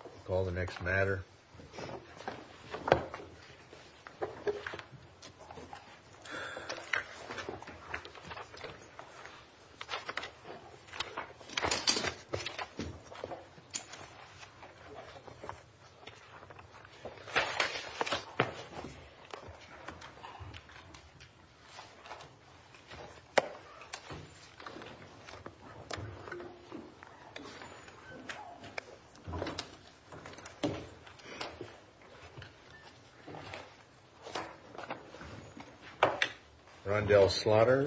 We'll call the next matter. Good morning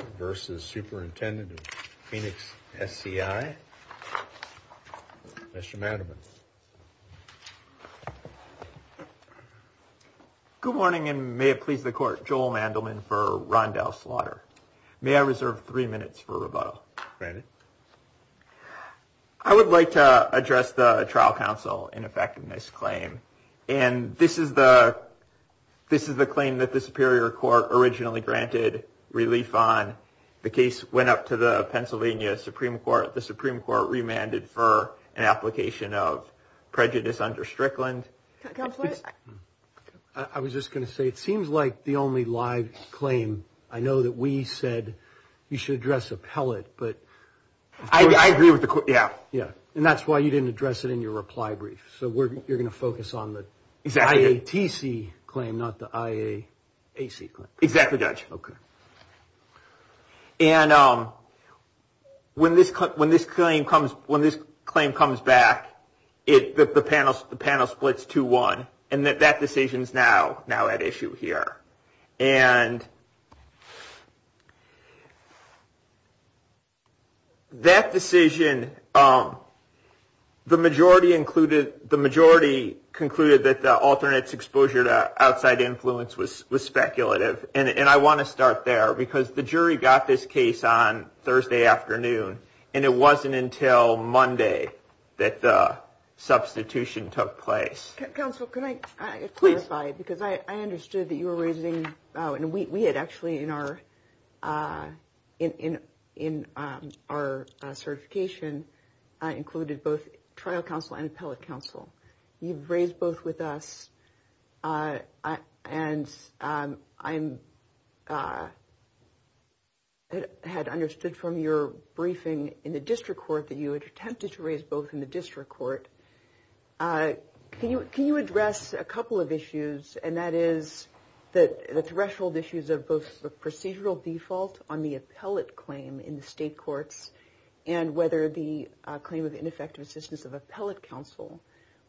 and may it please the court, Joel Mandelman for Rondell Slaughter. May I reserve three minutes for rebuttal? Granted. I would like to address the trial counsel in effect in this claim. And this is the claim that the Superior Court originally granted relief on. The case went up to the Pennsylvania Supreme Court. The Supreme Court remanded for an application of prejudice under Strickland. Counselor? I was just going to say, it seems like the only live claim, I know that we said you should address appellate. I agree with the court, yeah. And that's why you didn't address it in your reply brief. So you're going to focus on the IATC claim, not the IAAC claim. Exactly, Judge. And when this claim comes back, the panel splits 2-1. And that decision is now at issue here. And that decision, the majority concluded that the alternate exposure to outside influence was speculative. And I want to start there because the jury got this case on Thursday afternoon. And it wasn't until Monday that the substitution took place. Counsel, can I clarify? Because I understood that you were raising, and we had actually in our certification included both trial counsel and appellate counsel. You've raised both with us. And I had understood from your briefing in the district court that you had attempted to raise both in the district court. Can you address a couple of issues, and that is the threshold issues of both the procedural default on the appellate claim in the state courts and whether the claim of ineffective assistance of appellate counsel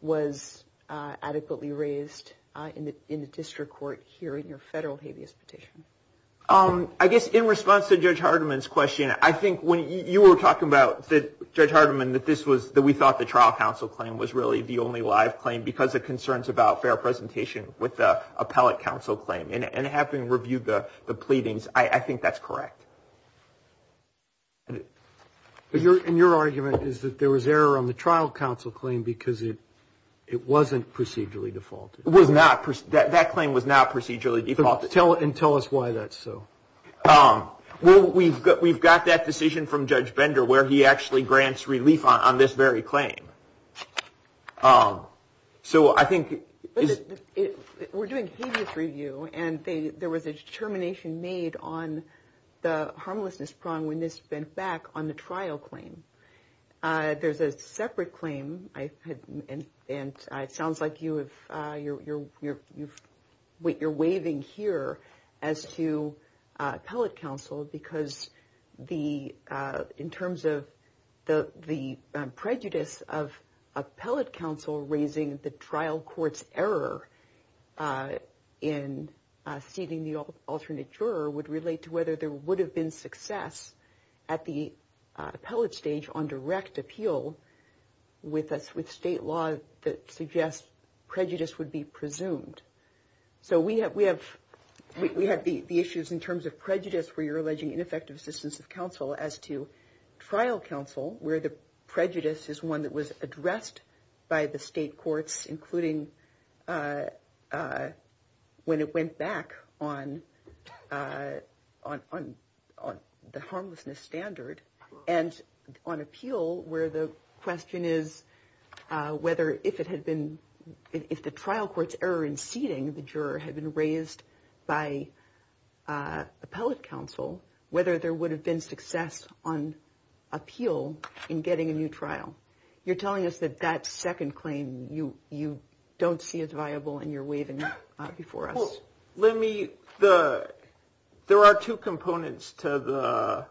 was adequately raised in the district court here in your federal habeas petition? I guess in response to Judge Hardiman's question, I think when you were talking about, Judge Hardiman's trial counsel claim was really the only live claim because of concerns about fair presentation with the appellate counsel claim. And having reviewed the pleadings, I think that's correct. And your argument is that there was error on the trial counsel claim because it wasn't procedurally defaulted. It was not. That claim was not procedurally defaulted. And tell us why that's so. Well, we've got that decision from Judge Bender where he actually grants relief on this very claim. So I think... We're doing habeas review, and there was a determination made on the harmlessness prong when this went back on the trial claim. There's a separate claim, and it sounds like you're waving here as to appellate counsel because the... In terms of the prejudice of appellate counsel raising the trial court's error in seating the alternate juror would relate to whether there would have been success at the appellate stage on direct appeal with state law that suggests prejudice would be presumed. So we have the issues in terms of prejudice where you're alleging ineffective assistance of counsel as to trial counsel where the prejudice is one that was addressed by the state courts, including when it went back on the harmlessness standard and on appeal where the question is whether if it had been... If the trial court's error in seating the juror had been raised by appellate counsel, whether there would have been success on appeal in getting a new trial. You're telling us that that second claim you don't see as viable and you're waving it before us. Let me... There are two components to the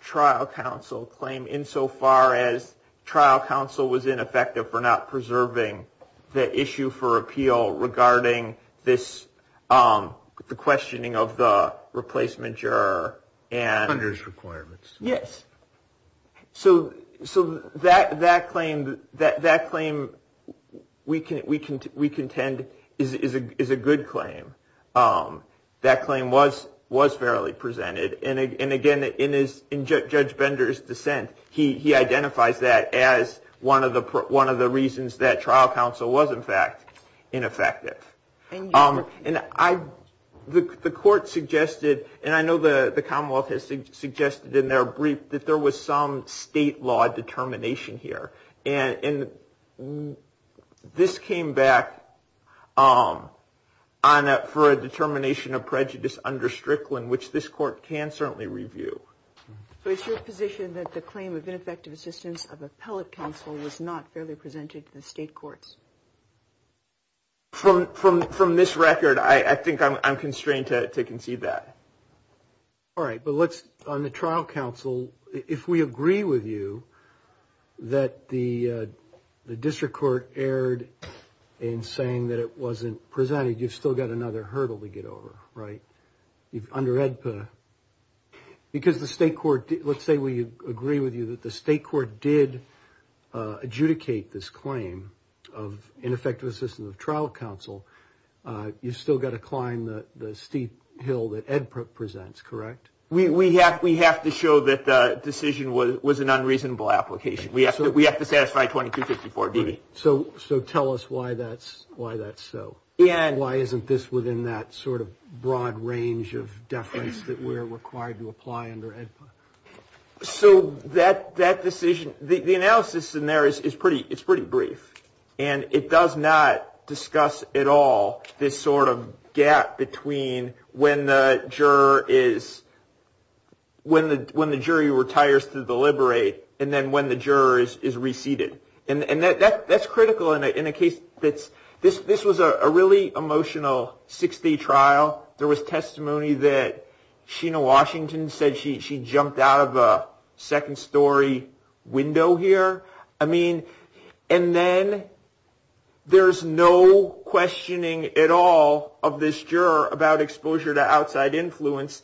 trial counsel claim insofar as trial counsel was ineffective for not preserving the issue for appeal regarding this... The questioning of the replacement juror and... Hunter's requirements. Yes. So that claim we contend is a good claim. That claim was fairly presented and again, in Judge Bender's dissent, he identifies that as one of the reasons that trial counsel was, in fact, ineffective. And the court suggested, and I know the Commonwealth has suggested in their brief, that there was some state law determination here. And this came back for a determination of prejudice under Strickland, which this court can certainly review. So it's your position that the claim of ineffective assistance of appellate counsel was not fairly presented to the state courts? From this record, I think I'm constrained to concede that. All right, but let's... On the trial counsel, if we agree with you that the district court erred in saying that it wasn't presented, you've still got another hurdle to get over, right? Under AEDPA. Because the state court... Let's say we agree with you that the state court did adjudicate this claim of ineffective assistance of trial counsel, you've still got to climb the steep hill that AEDPA presents, correct? We have to show that the decision was an unreasonable application. We have to satisfy 2254 D.B. So tell us why that's so. And why isn't this within that sort of broad range of deference that we're required to apply under AEDPA? So that decision... The analysis in there is pretty brief. And it does not discuss at all this sort of gap between when the juror is... When the jury retires to deliberate and then when the juror is re-seated. And that's critical in a case that's... This was a really emotional six-day trial. There was testimony that Sheena Washington said she jumped out of a second-story window here. I mean, and then there's no questioning at all of this juror about exposure to outside influence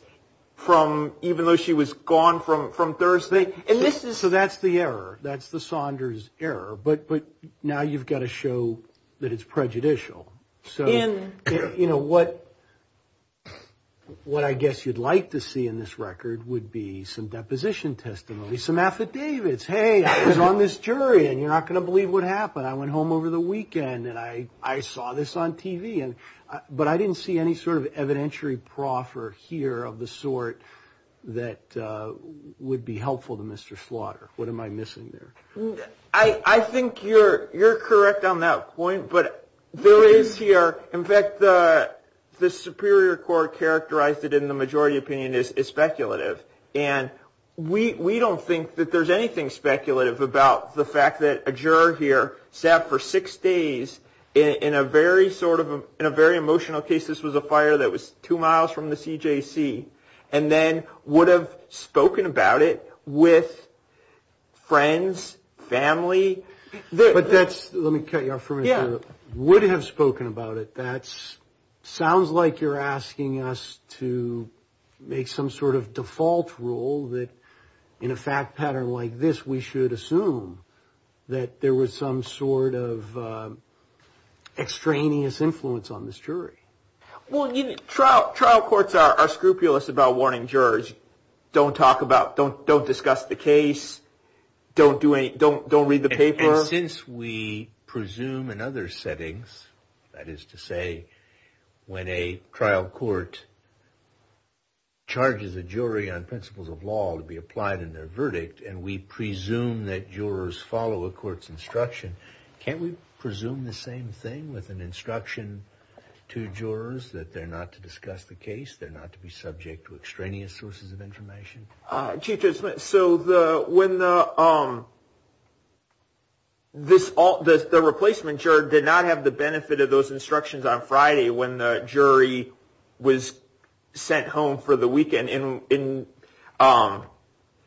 from... Even though she was gone from Thursday. And this is... So that's the error. That's the Saunders error. But now you've got to show that it's prejudicial. So, you know, what I guess you'd like to see in this record would be some deposition testimony, some affidavits. Hey, I was on this jury and you're not going to believe what happened. I went home over the weekend and I saw this on TV. But I didn't see any sort of evidentiary proffer here of the sort that would be helpful to Mr. Slaughter. What am I missing there? I think you're correct on that point. But there is here... In fact, the Superior Court characterized it in the majority opinion as speculative. And we don't think that there's anything speculative about the fact that a juror here sat for six days in a very emotional case. This was a fire that was two miles from the CJC. And then would have spoken about it with friends, family. But that's... Let me cut you off for a minute. Would have spoken about it. That sounds like you're asking us to make some sort of default rule that in a fact pattern like this, we should assume that there was some sort of extraneous influence on this jury. Well, trial courts are scrupulous about warning jurors. Don't talk about... Don't discuss the case. Don't read the paper. And since we presume in other settings, that is to say, when a trial court charges a jury on principles of law to be applied in their verdict, and we presume that jurors follow a court's instruction, can't we presume the same thing with an instruction to jurors that they're not to discuss the case, they're not to be subject to extraneous sources of information? Chief Judge Smith, so when the replacement juror did not have the benefit of those instructions on Friday when the jury was sent home for the weekend, and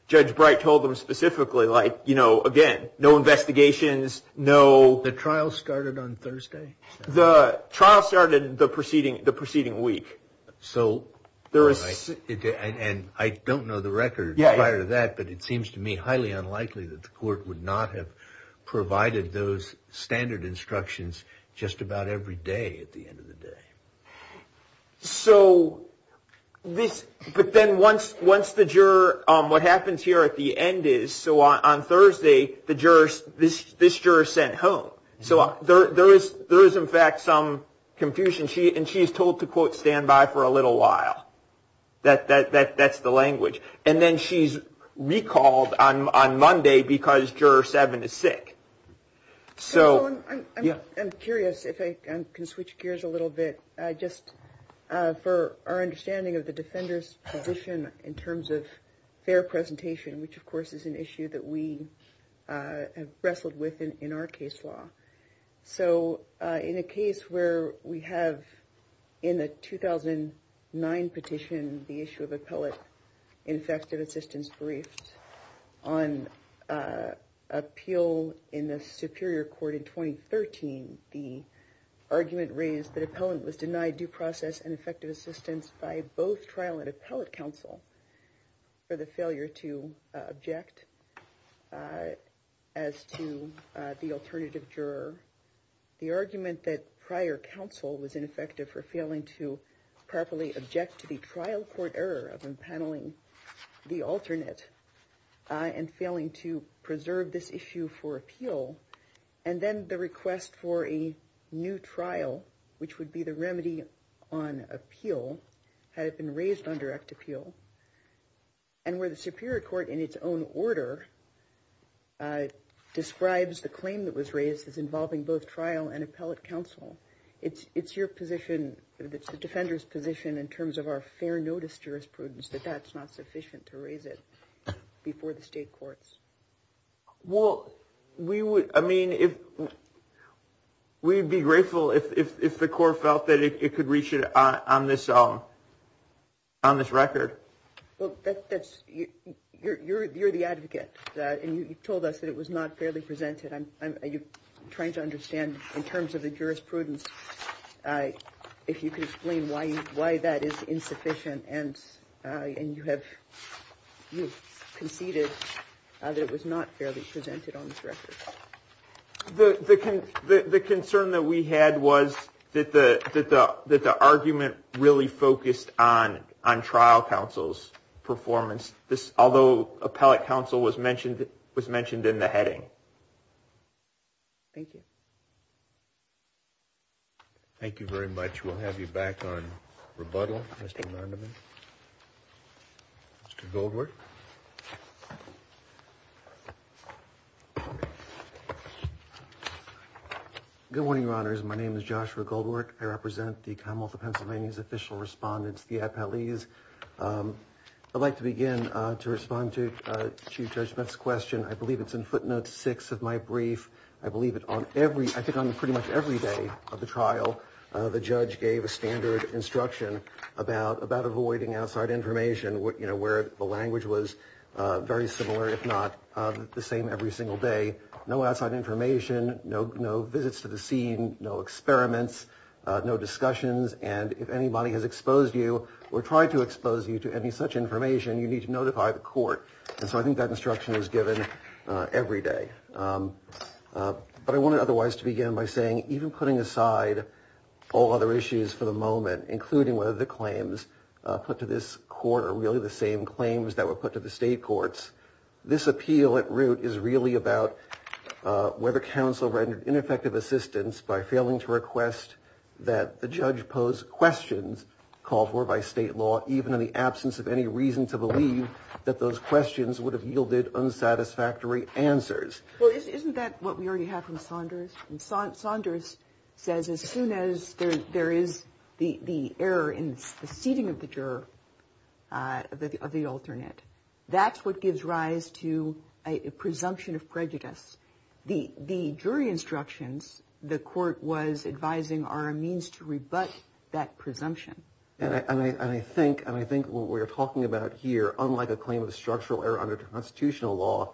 Judge Bright told them specifically, like, you know, again, no investigations, no... The trial started on Thursday? The trial started the preceding week. So, and I don't know the record prior to that, but it seems to me highly unlikely that the court would not have provided those standard instructions just about every day at the end of the day. So, this... But then once the juror... What happens here at the end is, so on Thursday, the jurors... This juror is sent home. So there is, in fact, some confusion. And she is told to, quote, stand by for a little while. That's the language. And then she's recalled on Monday because Juror 7 is sick. So... I'm curious if I can switch gears a little bit, just for our understanding of the defender's position in terms of fair presentation, which, of course, is an issue that we have wrestled with in our case law. So, in a case where we have, in the 2009 petition, the issue of appellate ineffective assistance briefs on appeal in the Superior Court in 2013, the argument raised that appellant was denied due process and effective assistance by both trial and appellate counsel for the failure to object as to the alternative juror, the argument that prior counsel was ineffective for failing to properly object to the trial court error of empaneling the alternate and failing to preserve this issue for appeal, and then the request for a new trial, which would be the remedy on appeal, had it been raised on direct appeal, and where the Superior Court, in its own order, describes the claim that was raised as involving both trial and appellate counsel. It's your position, it's the defender's position in terms of our fair notice jurisprudence that that's not sufficient to raise it before the state courts. Well, we would, I mean, we'd be grateful if the court felt that it could reach it on this record. Well, that's, you're the advocate for that, and you told us that it was not fairly presented. I'm trying to understand, in terms of the jurisprudence, if you could explain why that is insufficient, and you have conceded that it was not fairly presented on this record. The concern that we had was that the argument really focused on trial counsel's performance, although appellate counsel was mentioned in the heading. Thank you. Thank you very much. We'll have you back on rebuttal, Mr. Vanderman. Mr. Goldworth. Good morning, Your Honors. My name is Joshua Goldworth. I represent the Commonwealth of Pennsylvania's official respondents, the appellees. I'd like to begin to respond to Chief Judge Smith's question. I believe it's in footnotes six of my brief. I believe it on every, I think on pretty much every day of the trial, the judge gave a standard instruction about avoiding outside information, where the language was very similar, if not the same every single day. No outside information, no visits to the scene, no experiments, no discussions. And if anybody has exposed you or tried to expose you to any such information, you need to notify the court. And so I think that instruction is given every day. But I wanted otherwise to begin by saying, even putting aside all other issues for the moment, including whether the claims put to this court are really the same claims that were put to the state courts, this appeal at root is really about whether counsel rendered ineffective assistance by failing to request that the judge pose questions called for by state law, even in the absence of any reason to believe that those questions would have yielded unsatisfactory answers. Well, isn't that what we already have from Saunders? And Saunders says, as soon as there is the error in the seating of the juror, of the alternate, that's what gives rise to a presumption of prejudice. The jury instructions the court was advising are a means to rebut that presumption. And I think what we're talking about here, unlike a claim of structural error under constitutional law,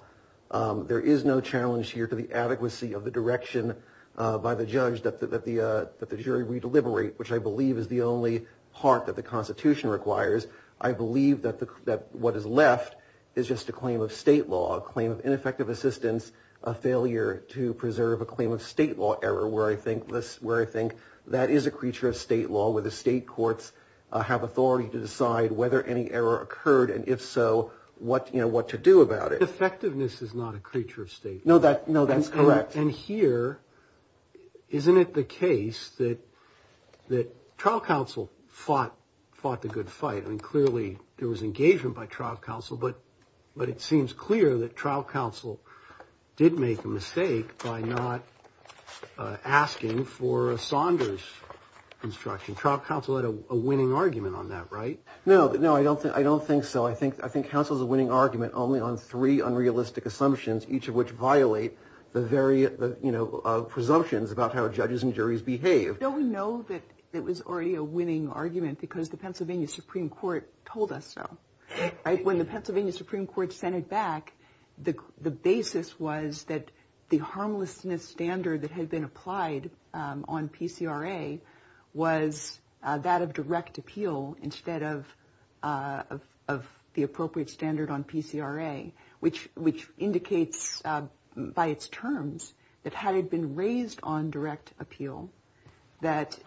there is no challenge here to the adequacy of the direction by the judge that the jury re-deliberate, which I believe is the only part that the constitution requires. I believe that what is left is just a claim of state law, a claim of ineffective assistance, a failure to preserve a claim of state law error, where I think that is a creature of state law, where the state courts have authority to decide whether any error occurred, and if so, what to do about it. Effectiveness is not a creature of state law. No, that's correct. And here, isn't it the case that trial counsel fought the good fight? I mean, clearly there was engagement by trial counsel, but it seems clear that trial counsel did make a mistake by not asking for a Saunders instruction. Trial counsel had a winning argument on that, right? No, I don't think so. I think counsel's a winning argument only on three unrealistic assumptions, each of which violate the very presumptions about how judges and juries behave. Don't we know that it was already a winning argument because the Pennsylvania Supreme Court told us so? When the Pennsylvania Supreme Court sent it back, the basis was that the harmlessness standard that had been applied on PCRA was that of direct appeal instead of the appropriate standard on PCRA, which indicates by its terms that had it been raised on direct appeal, that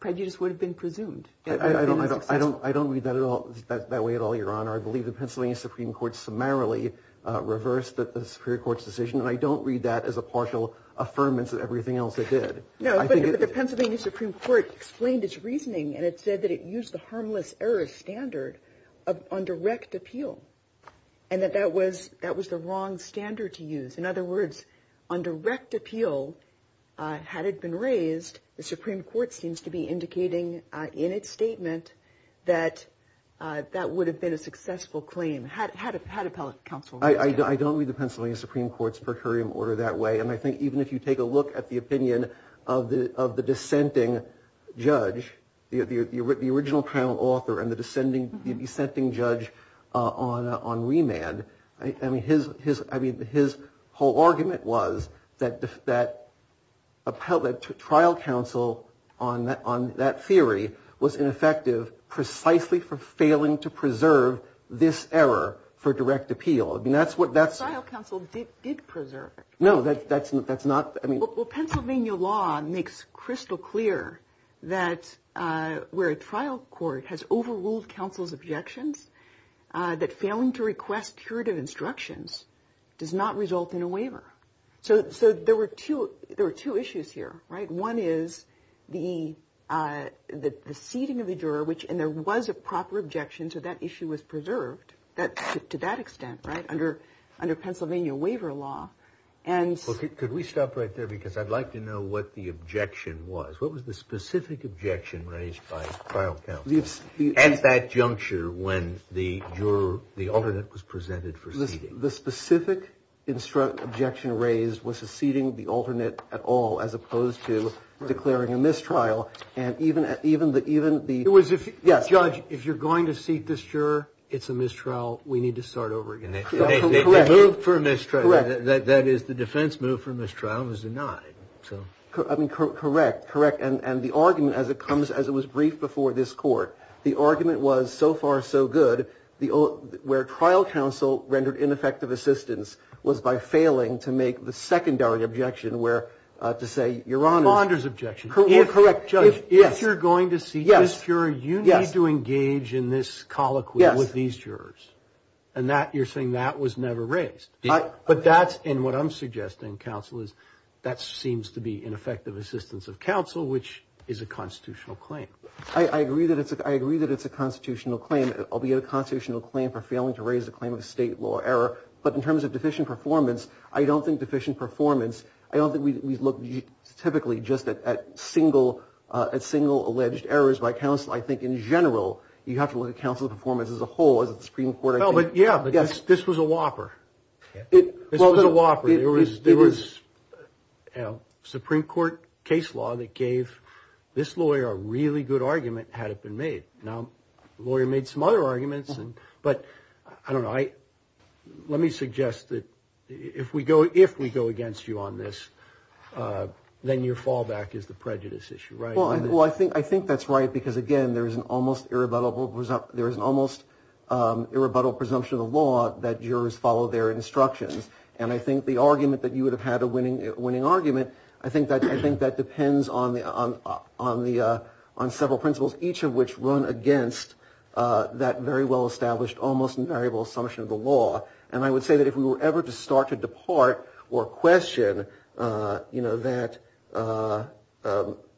prejudice would have been presumed. I don't read that way at all, Your Honor. I believe the Pennsylvania Supreme Court summarily reversed the Superior Court's decision, and I don't read that as a partial affirmance of everything else it did. No, but the Pennsylvania Supreme Court explained its reasoning, and it said that it used the harmless error standard on direct appeal, and that that was the wrong standard to use. In other words, on direct appeal, had it been raised, the Supreme Court seems to be indicating in its statement that that would have been a successful claim. How do appellate counsel- I don't read the Pennsylvania Supreme Court's per curiam order that way, and I think even if you take a look at the opinion of the dissenting judge, the original trial author and the dissenting judge on remand, I mean, his whole argument was that trial counsel on that theory was ineffective precisely for failing to preserve this error for direct appeal. I mean, that's what that's- Trial counsel did preserve it. No, that's not, I mean- Well, Pennsylvania law makes crystal clear that where a trial court has overruled counsel's objections, that failing to request curative instructions does not result in a waiver. So there were two issues here, right? One is the seating of the juror, which, and there was a proper objection, so that issue was preserved to that extent, right, under Pennsylvania waiver law, and- Could we stop right there? Because I'd like to know what the objection was. What was the specific objection raised by trial counsel at that juncture when the juror, the alternate was presented for seating? The specific objection raised was the seating of the alternate at all as opposed to declaring a mistrial, and even the- It was if, judge, if you're going to seat this juror, it's a mistrial, we need to start over again. Correct. They moved for a mistrial. Correct. That is, the defense moved for a mistrial and was denied, so. I mean, correct, correct, and the argument, as it comes, as it was briefed before this court, the argument was, so far, so good, where trial counsel rendered ineffective assistance was by failing to make the secondary objection where, to say, your honor- Fonder's objection. Correct, judge. If you're going to seat this juror, you need to engage in this colloquy with these jurors, and you're saying that was never raised, but that's, and what I'm suggesting, counsel, is that seems to be ineffective assistance of counsel, which is a constitutional claim. I agree that it's a constitutional claim, albeit a constitutional claim for failing to raise a claim of a state law error, but in terms of deficient performance, I don't think deficient performance, I don't think we look, typically, just at single alleged errors by counsel. I think, in general, you have to look at counsel's performance as a whole, as the Supreme Court- No, but yeah, but this was a whopper. This was a whopper. There was a Supreme Court case law that gave this lawyer a really good argument, had it been made. Now, the lawyer made some other arguments, but, I don't know, let me suggest that if we go against you on this, then your fallback is the prejudice issue, right? Well, I think that's right, because again, there is an almost irrebuttable presumption of the law that jurors follow their instructions, and I think the argument that you would have had a winning argument, I think that depends on several principles, each of which run against that very well-established, almost invariable assumption of the law. And I would say that if we were ever to start to depart or question that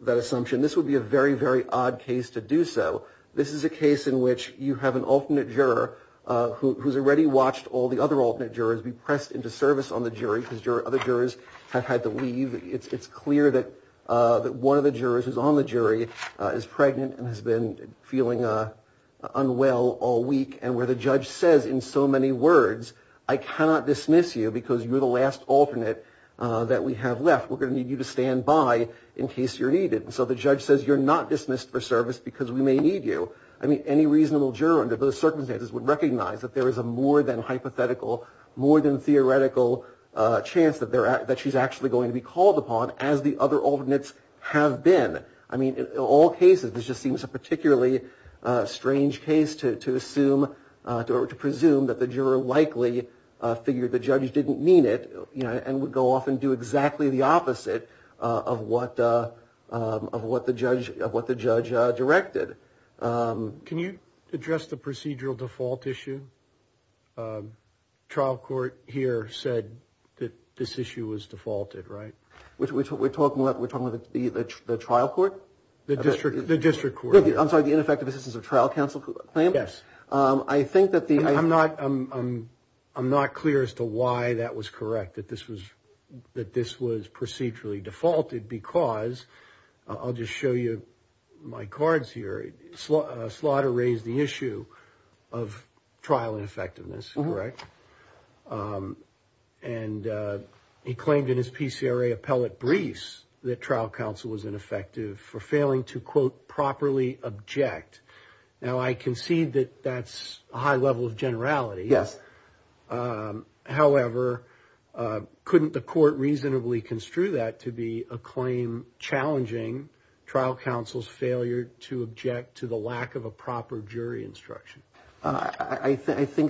assumption, this would be a very, very odd case to do so. This is a case in which you have an alternate juror who's already watched all the other alternate jurors be pressed into service on the jury, because other jurors have had to leave. It's clear that one of the jurors who's on the jury is pregnant and has been feeling unwell all week, and where the judge says in so many words, I cannot dismiss you because you're the last alternate that we have left, we're gonna need you to stand by in case you're needed. So the judge says you're not dismissed for service because we may need you. I mean, any reasonable juror under those circumstances would recognize that there is a more than hypothetical, more than theoretical chance that she's actually going to be called upon as the other alternates have been. I mean, in all cases, this just seems a particularly strange case to assume or to presume that the juror likely figured the judge didn't mean it, and would go off and do exactly the opposite of what the judge directed. Can you address the procedural default issue? The trial court here said that this issue was defaulted, right? We're talking about the trial court? The district court. I'm sorry, the ineffective assistance of trial counsel claim? Yes. I think that the... I'm not clear as to why that was correct, that this was procedurally defaulted, because I'll just show you my cards here. Slaughter raised the issue of trial ineffectiveness, correct? And he claimed in his PCRA appellate briefs that trial counsel was ineffective for failing to, quote, properly object. Now, I concede that that's a high level of generality. Yes. However, couldn't the court reasonably construe that to be a claim challenging trial counsel's failure to object to the lack of a proper jury instruction? I think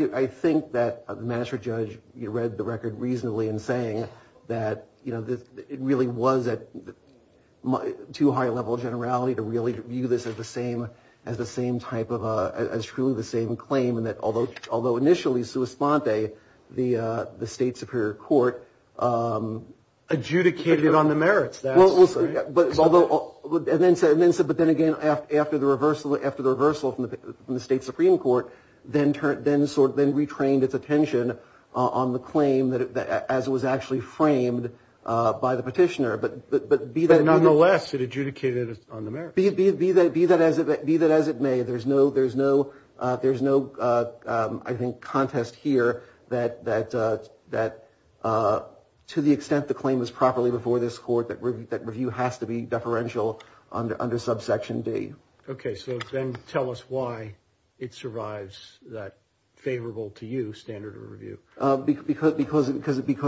that the magistrate judge read the record reasonably in saying that, you know, it really was too high a level of generality to really view this as the same type of... as truly the same claim, and that although initially, sua sponte, the state superior court... Adjudicated it on the merits. And then said, but then again, after the reversal from the state supreme court, then retrained its attention on the claim as it was actually framed by the petitioner. But nonetheless, it adjudicated it on the merits. Be that as it may, there's no, I think, contest here that to the extent the claim was properly before this court that review has to be deferential under subsection D. Okay, so then tell us why it survives that favorable to you standard of review. Because,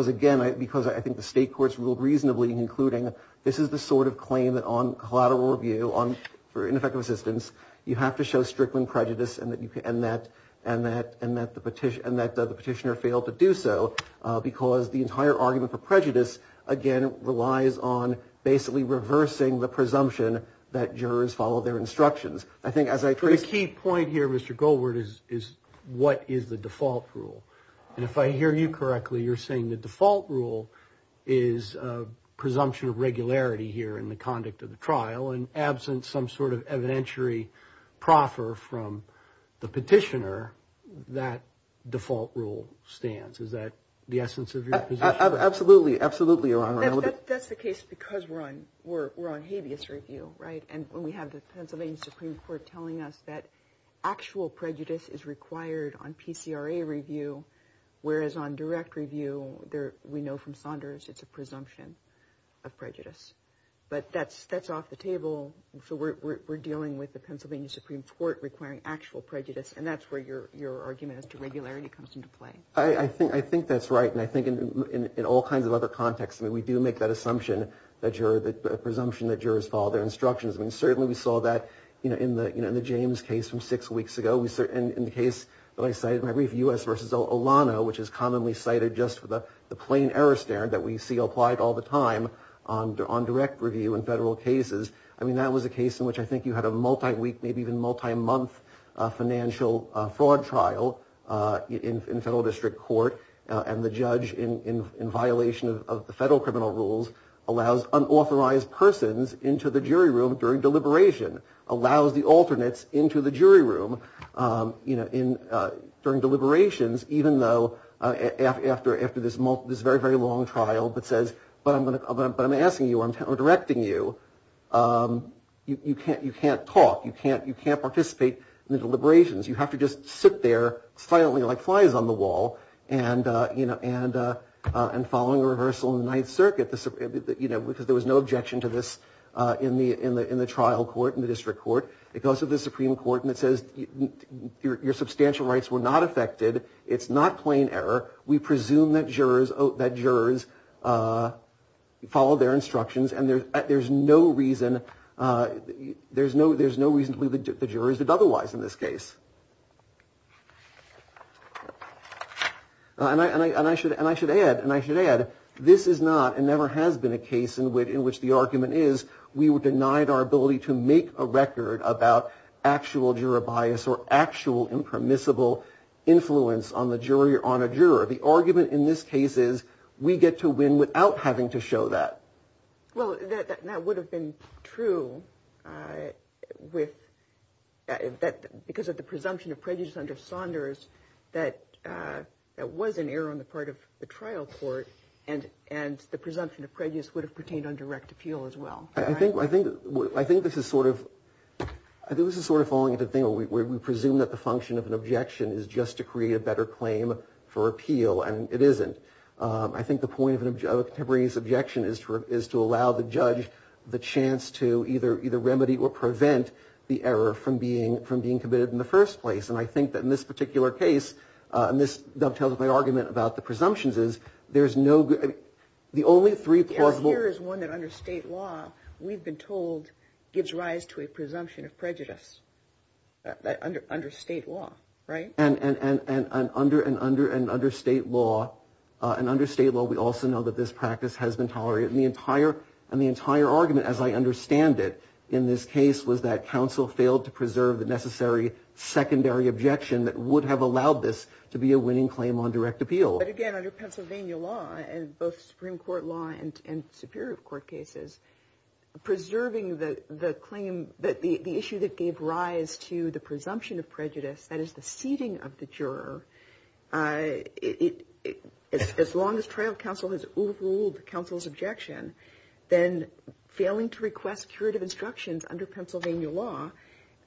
again, because I think the state courts ruled reasonably in including this is the sort of claim that on collateral review for ineffective assistance, you have to show strickling prejudice and that the petitioner failed to do so because the entire argument for prejudice, again, relies on basically reversing the presumption that jurors follow their instructions. I think as I trace... The key point here, Mr. Goldward, is what is the default rule? And if I hear you correctly, you're saying the default rule is presumption of regularity here in the conduct of the trial and absent some sort of evidentiary proffer from the petitioner, that default rule stands. Is that the essence of your position? Absolutely, absolutely, Your Honor. That's the case because we're on habeas review, right? And when we have the Pennsylvania Supreme Court telling us that actual prejudice is required on PCRA review, whereas on direct review, we know from Saunders, it's a presumption of prejudice. But that's off the table, so we're dealing with the Pennsylvania Supreme Court requiring actual prejudice, and that's where your argument as to regularity comes into play. I think that's right, and I think in all kinds of other contexts, we do make that assumption, that presumption that jurors follow their instructions. Certainly we saw that in the James case from six weeks ago, and in the case that I cited in my brief, U.S. v. Olano, which is commonly cited just for the plain error standard that we see applied all the time on direct review in federal cases. I mean, that was a case in which I think you had a multi-week, maybe even multi-month financial fraud trial in federal district court, and the judge, in violation of the federal criminal rules, allows unauthorized persons into the jury room during deliberation, allows the alternates into the jury room during deliberations, even though after this very, very long trial, but says, but I'm asking you, I'm directing you, you can't talk, you can't participate in the deliberations. You have to just sit there silently like flies on the wall and following a reversal in the Ninth Circuit, because there was no objection to this in the trial court, in the district court. It goes to the Supreme Court and it says, your substantial rights were not affected. It's not plain error. We presume that jurors follow their instructions, and there's no reason to believe the jurors did otherwise in this case. And I should add, and I should add, this is not and never has been a case in which the argument is, we were denied our ability to make a record about actual juror bias or actual impermissible influence on the jury or on a juror. The argument in this case is, we get to win without having to show that. Well, that would have been true with, because of the presumption of prejudice under Saunders, that was an error on the part of the trial court, and the presumption of prejudice would have pertained on direct appeal as well. I think this is sort of falling into the thing where we presume that the function of an objection is just to create a better claim for appeal, and it isn't. I think the point of a contemporaneous objection is to allow the judge the chance to either remedy or prevent the error from being committed in the first place. And I think that in this particular case, and this dovetails with my argument about the presumptions, is there's no good, the only three plausible. Yes, here is one that under state law, we've been told, gives rise to a presumption of prejudice under state law, right? And under state law, we also know that this practice has been tolerated, and the entire argument, as I understand it, in this case, was that counsel failed to preserve the necessary secondary objection that would have allowed this to be a winning claim on direct appeal. But again, under Pennsylvania law, and both Supreme Court law and Superior Court cases, preserving the claim, the issue that gave rise to the presumption of prejudice, that is the seating of the juror, as long as trial counsel has ruled counsel's objection, then failing to request curative instructions under Pennsylvania law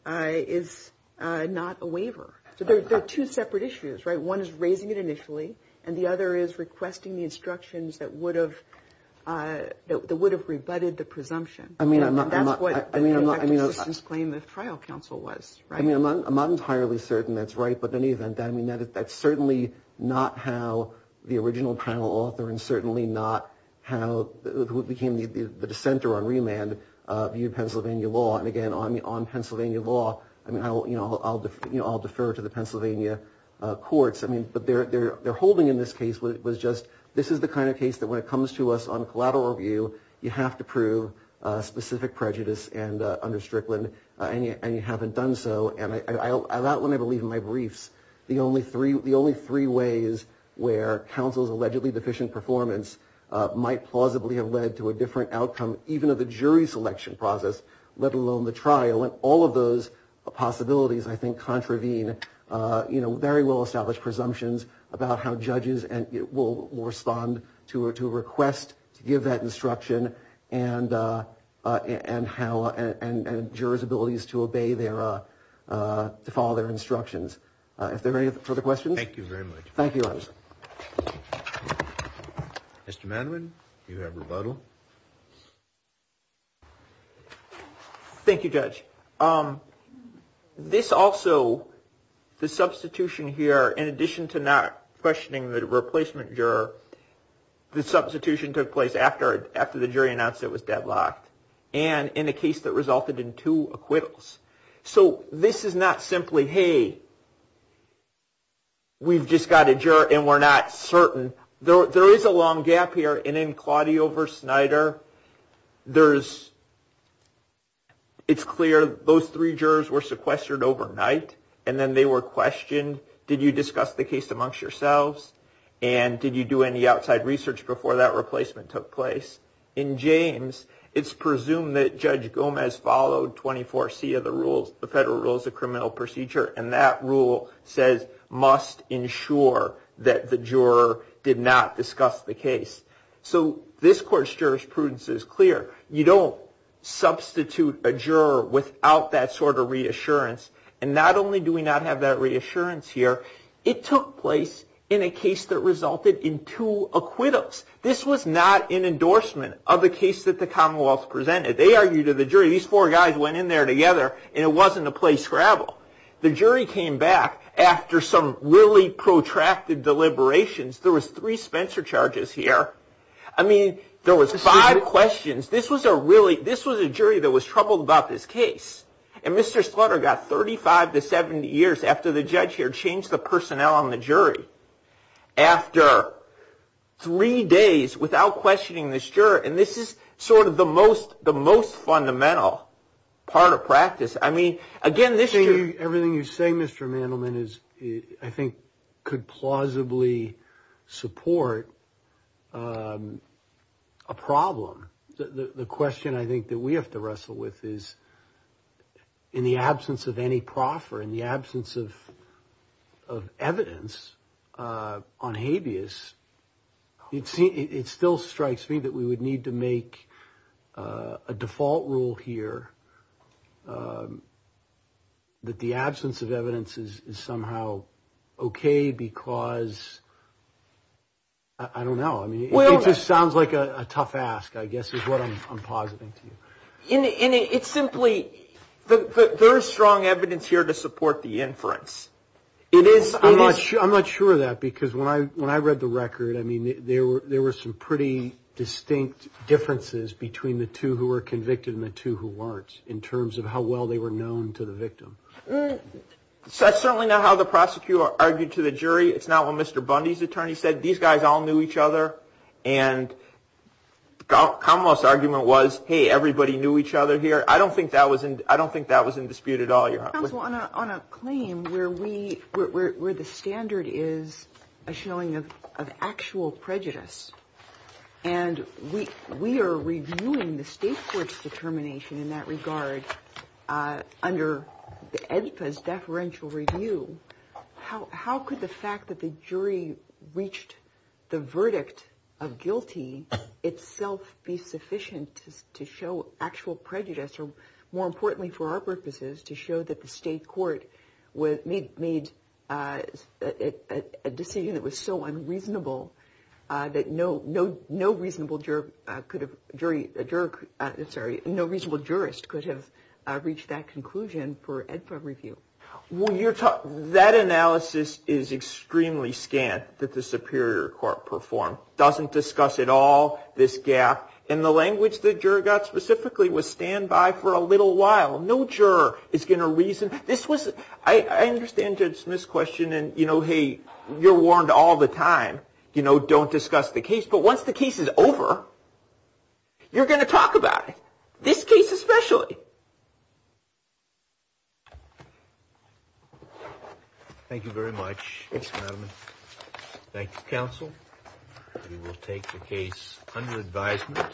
is not a waiver. So there are two separate issues, right? One is raising it initially, and the other is requesting the instructions that would have rebutted the presumption. I mean, I'm not entirely certain that's right, but in any event, that's certainly not how the original panel author, and certainly not how the dissenter on remand viewed Pennsylvania law. And again, on Pennsylvania law, I'll defer to the Pennsylvania courts, but their holding in this case was just, this is the kind of case that when it comes to us on collateral review, you have to prove specific prejudice under Strickland, and you haven't done so. And that one I believe in my briefs. The only three ways where counsel's allegedly deficient performance might plausibly have led to a different outcome, even of the jury selection process, let alone the trial, and all of those possibilities I think contravene very well established presumptions about how judges will respond to a request to give that instruction, and jurors' abilities to obey their, to follow their instructions. Are there any further questions? Thank you very much. Thank you, Judge. Mr. Madman, you have rebuttal. Thank you, Judge. This also, the substitution here, in addition to not questioning the replacement juror, the substitution took place after the jury announced it was deadlocked, and in a case that resulted in two acquittals. So this is not simply, hey, we've just got a juror and we're not certain. There is a long gap here, and in Claudio v. Snyder, there's, it's clear those three jurors were sequestered overnight, and then they were questioned, did you discuss the case amongst yourselves, and did you do any outside research before that replacement took place? In James, it's presumed that Judge Gomez followed 24C of the rules, the Federal Rules of Criminal Procedure, and that rule says must ensure that the juror did not discuss the case. So this court's jurisprudence is clear. You don't substitute a juror without that sort of reassurance, and not only do we not have that reassurance here, it took place in a case that resulted in two acquittals. This was not an endorsement of the case that the Commonwealth presented. They argued to the jury. These four guys went in there together, and it wasn't a play scrabble. The jury came back after some really protracted deliberations. There was three Spencer charges here. I mean, there was five questions. This was a really, this was a jury that was troubled about this case, and Mr. Slaughter got 35 to 70 years after the judge here changed the personnel on the jury after three days without questioning this juror, and this is sort of the most fundamental part of practice. I mean, again, this jury. Everything you say, Mr. Mandelman, I think could plausibly support a problem. The question I think that we have to wrestle with is in the absence of any proff or in the absence of evidence on habeas, it still strikes me that we would need to make a default rule here that the absence of evidence is somehow okay because, I don't know. I mean, it just sounds like a tough ask, I guess, is what I'm positing to you. And it's simply, there is strong evidence here to support the inference. It is. I'm not sure of that because when I read the record, I mean, there were some pretty distinct differences between the two who were convicted and the two who weren't in terms of how well they were known to the victim. That's certainly not how the prosecutor argued to the jury. It's not what Mr. Bundy's attorney said. These guys all knew each other. And the commonwealth's argument was, hey, everybody knew each other here. I don't think that was in dispute at all. Counsel, on a claim where the standard is a showing of actual prejudice and we are reviewing the state court's determination in that regard under EDPA's deferential review, how could the fact that the jury reached the verdict of guilty itself be sufficient to show actual prejudice or, more importantly for our purposes, to show that the state court made a decision that was so unreasonable that no reasonable jurist could have reached that conclusion for EDPA review? That analysis is extremely scant that the Superior Court performed. It doesn't discuss at all this gap. And the language the juror got specifically was stand by for a little while. No juror is going to reason. I understand Judge Smith's question and, you know, hey, you're warned all the time. You know, don't discuss the case. But once the case is over, you're going to talk about it, this case especially. Thank you very much, Madam. Thank you, Counsel. We will take the case under advisement.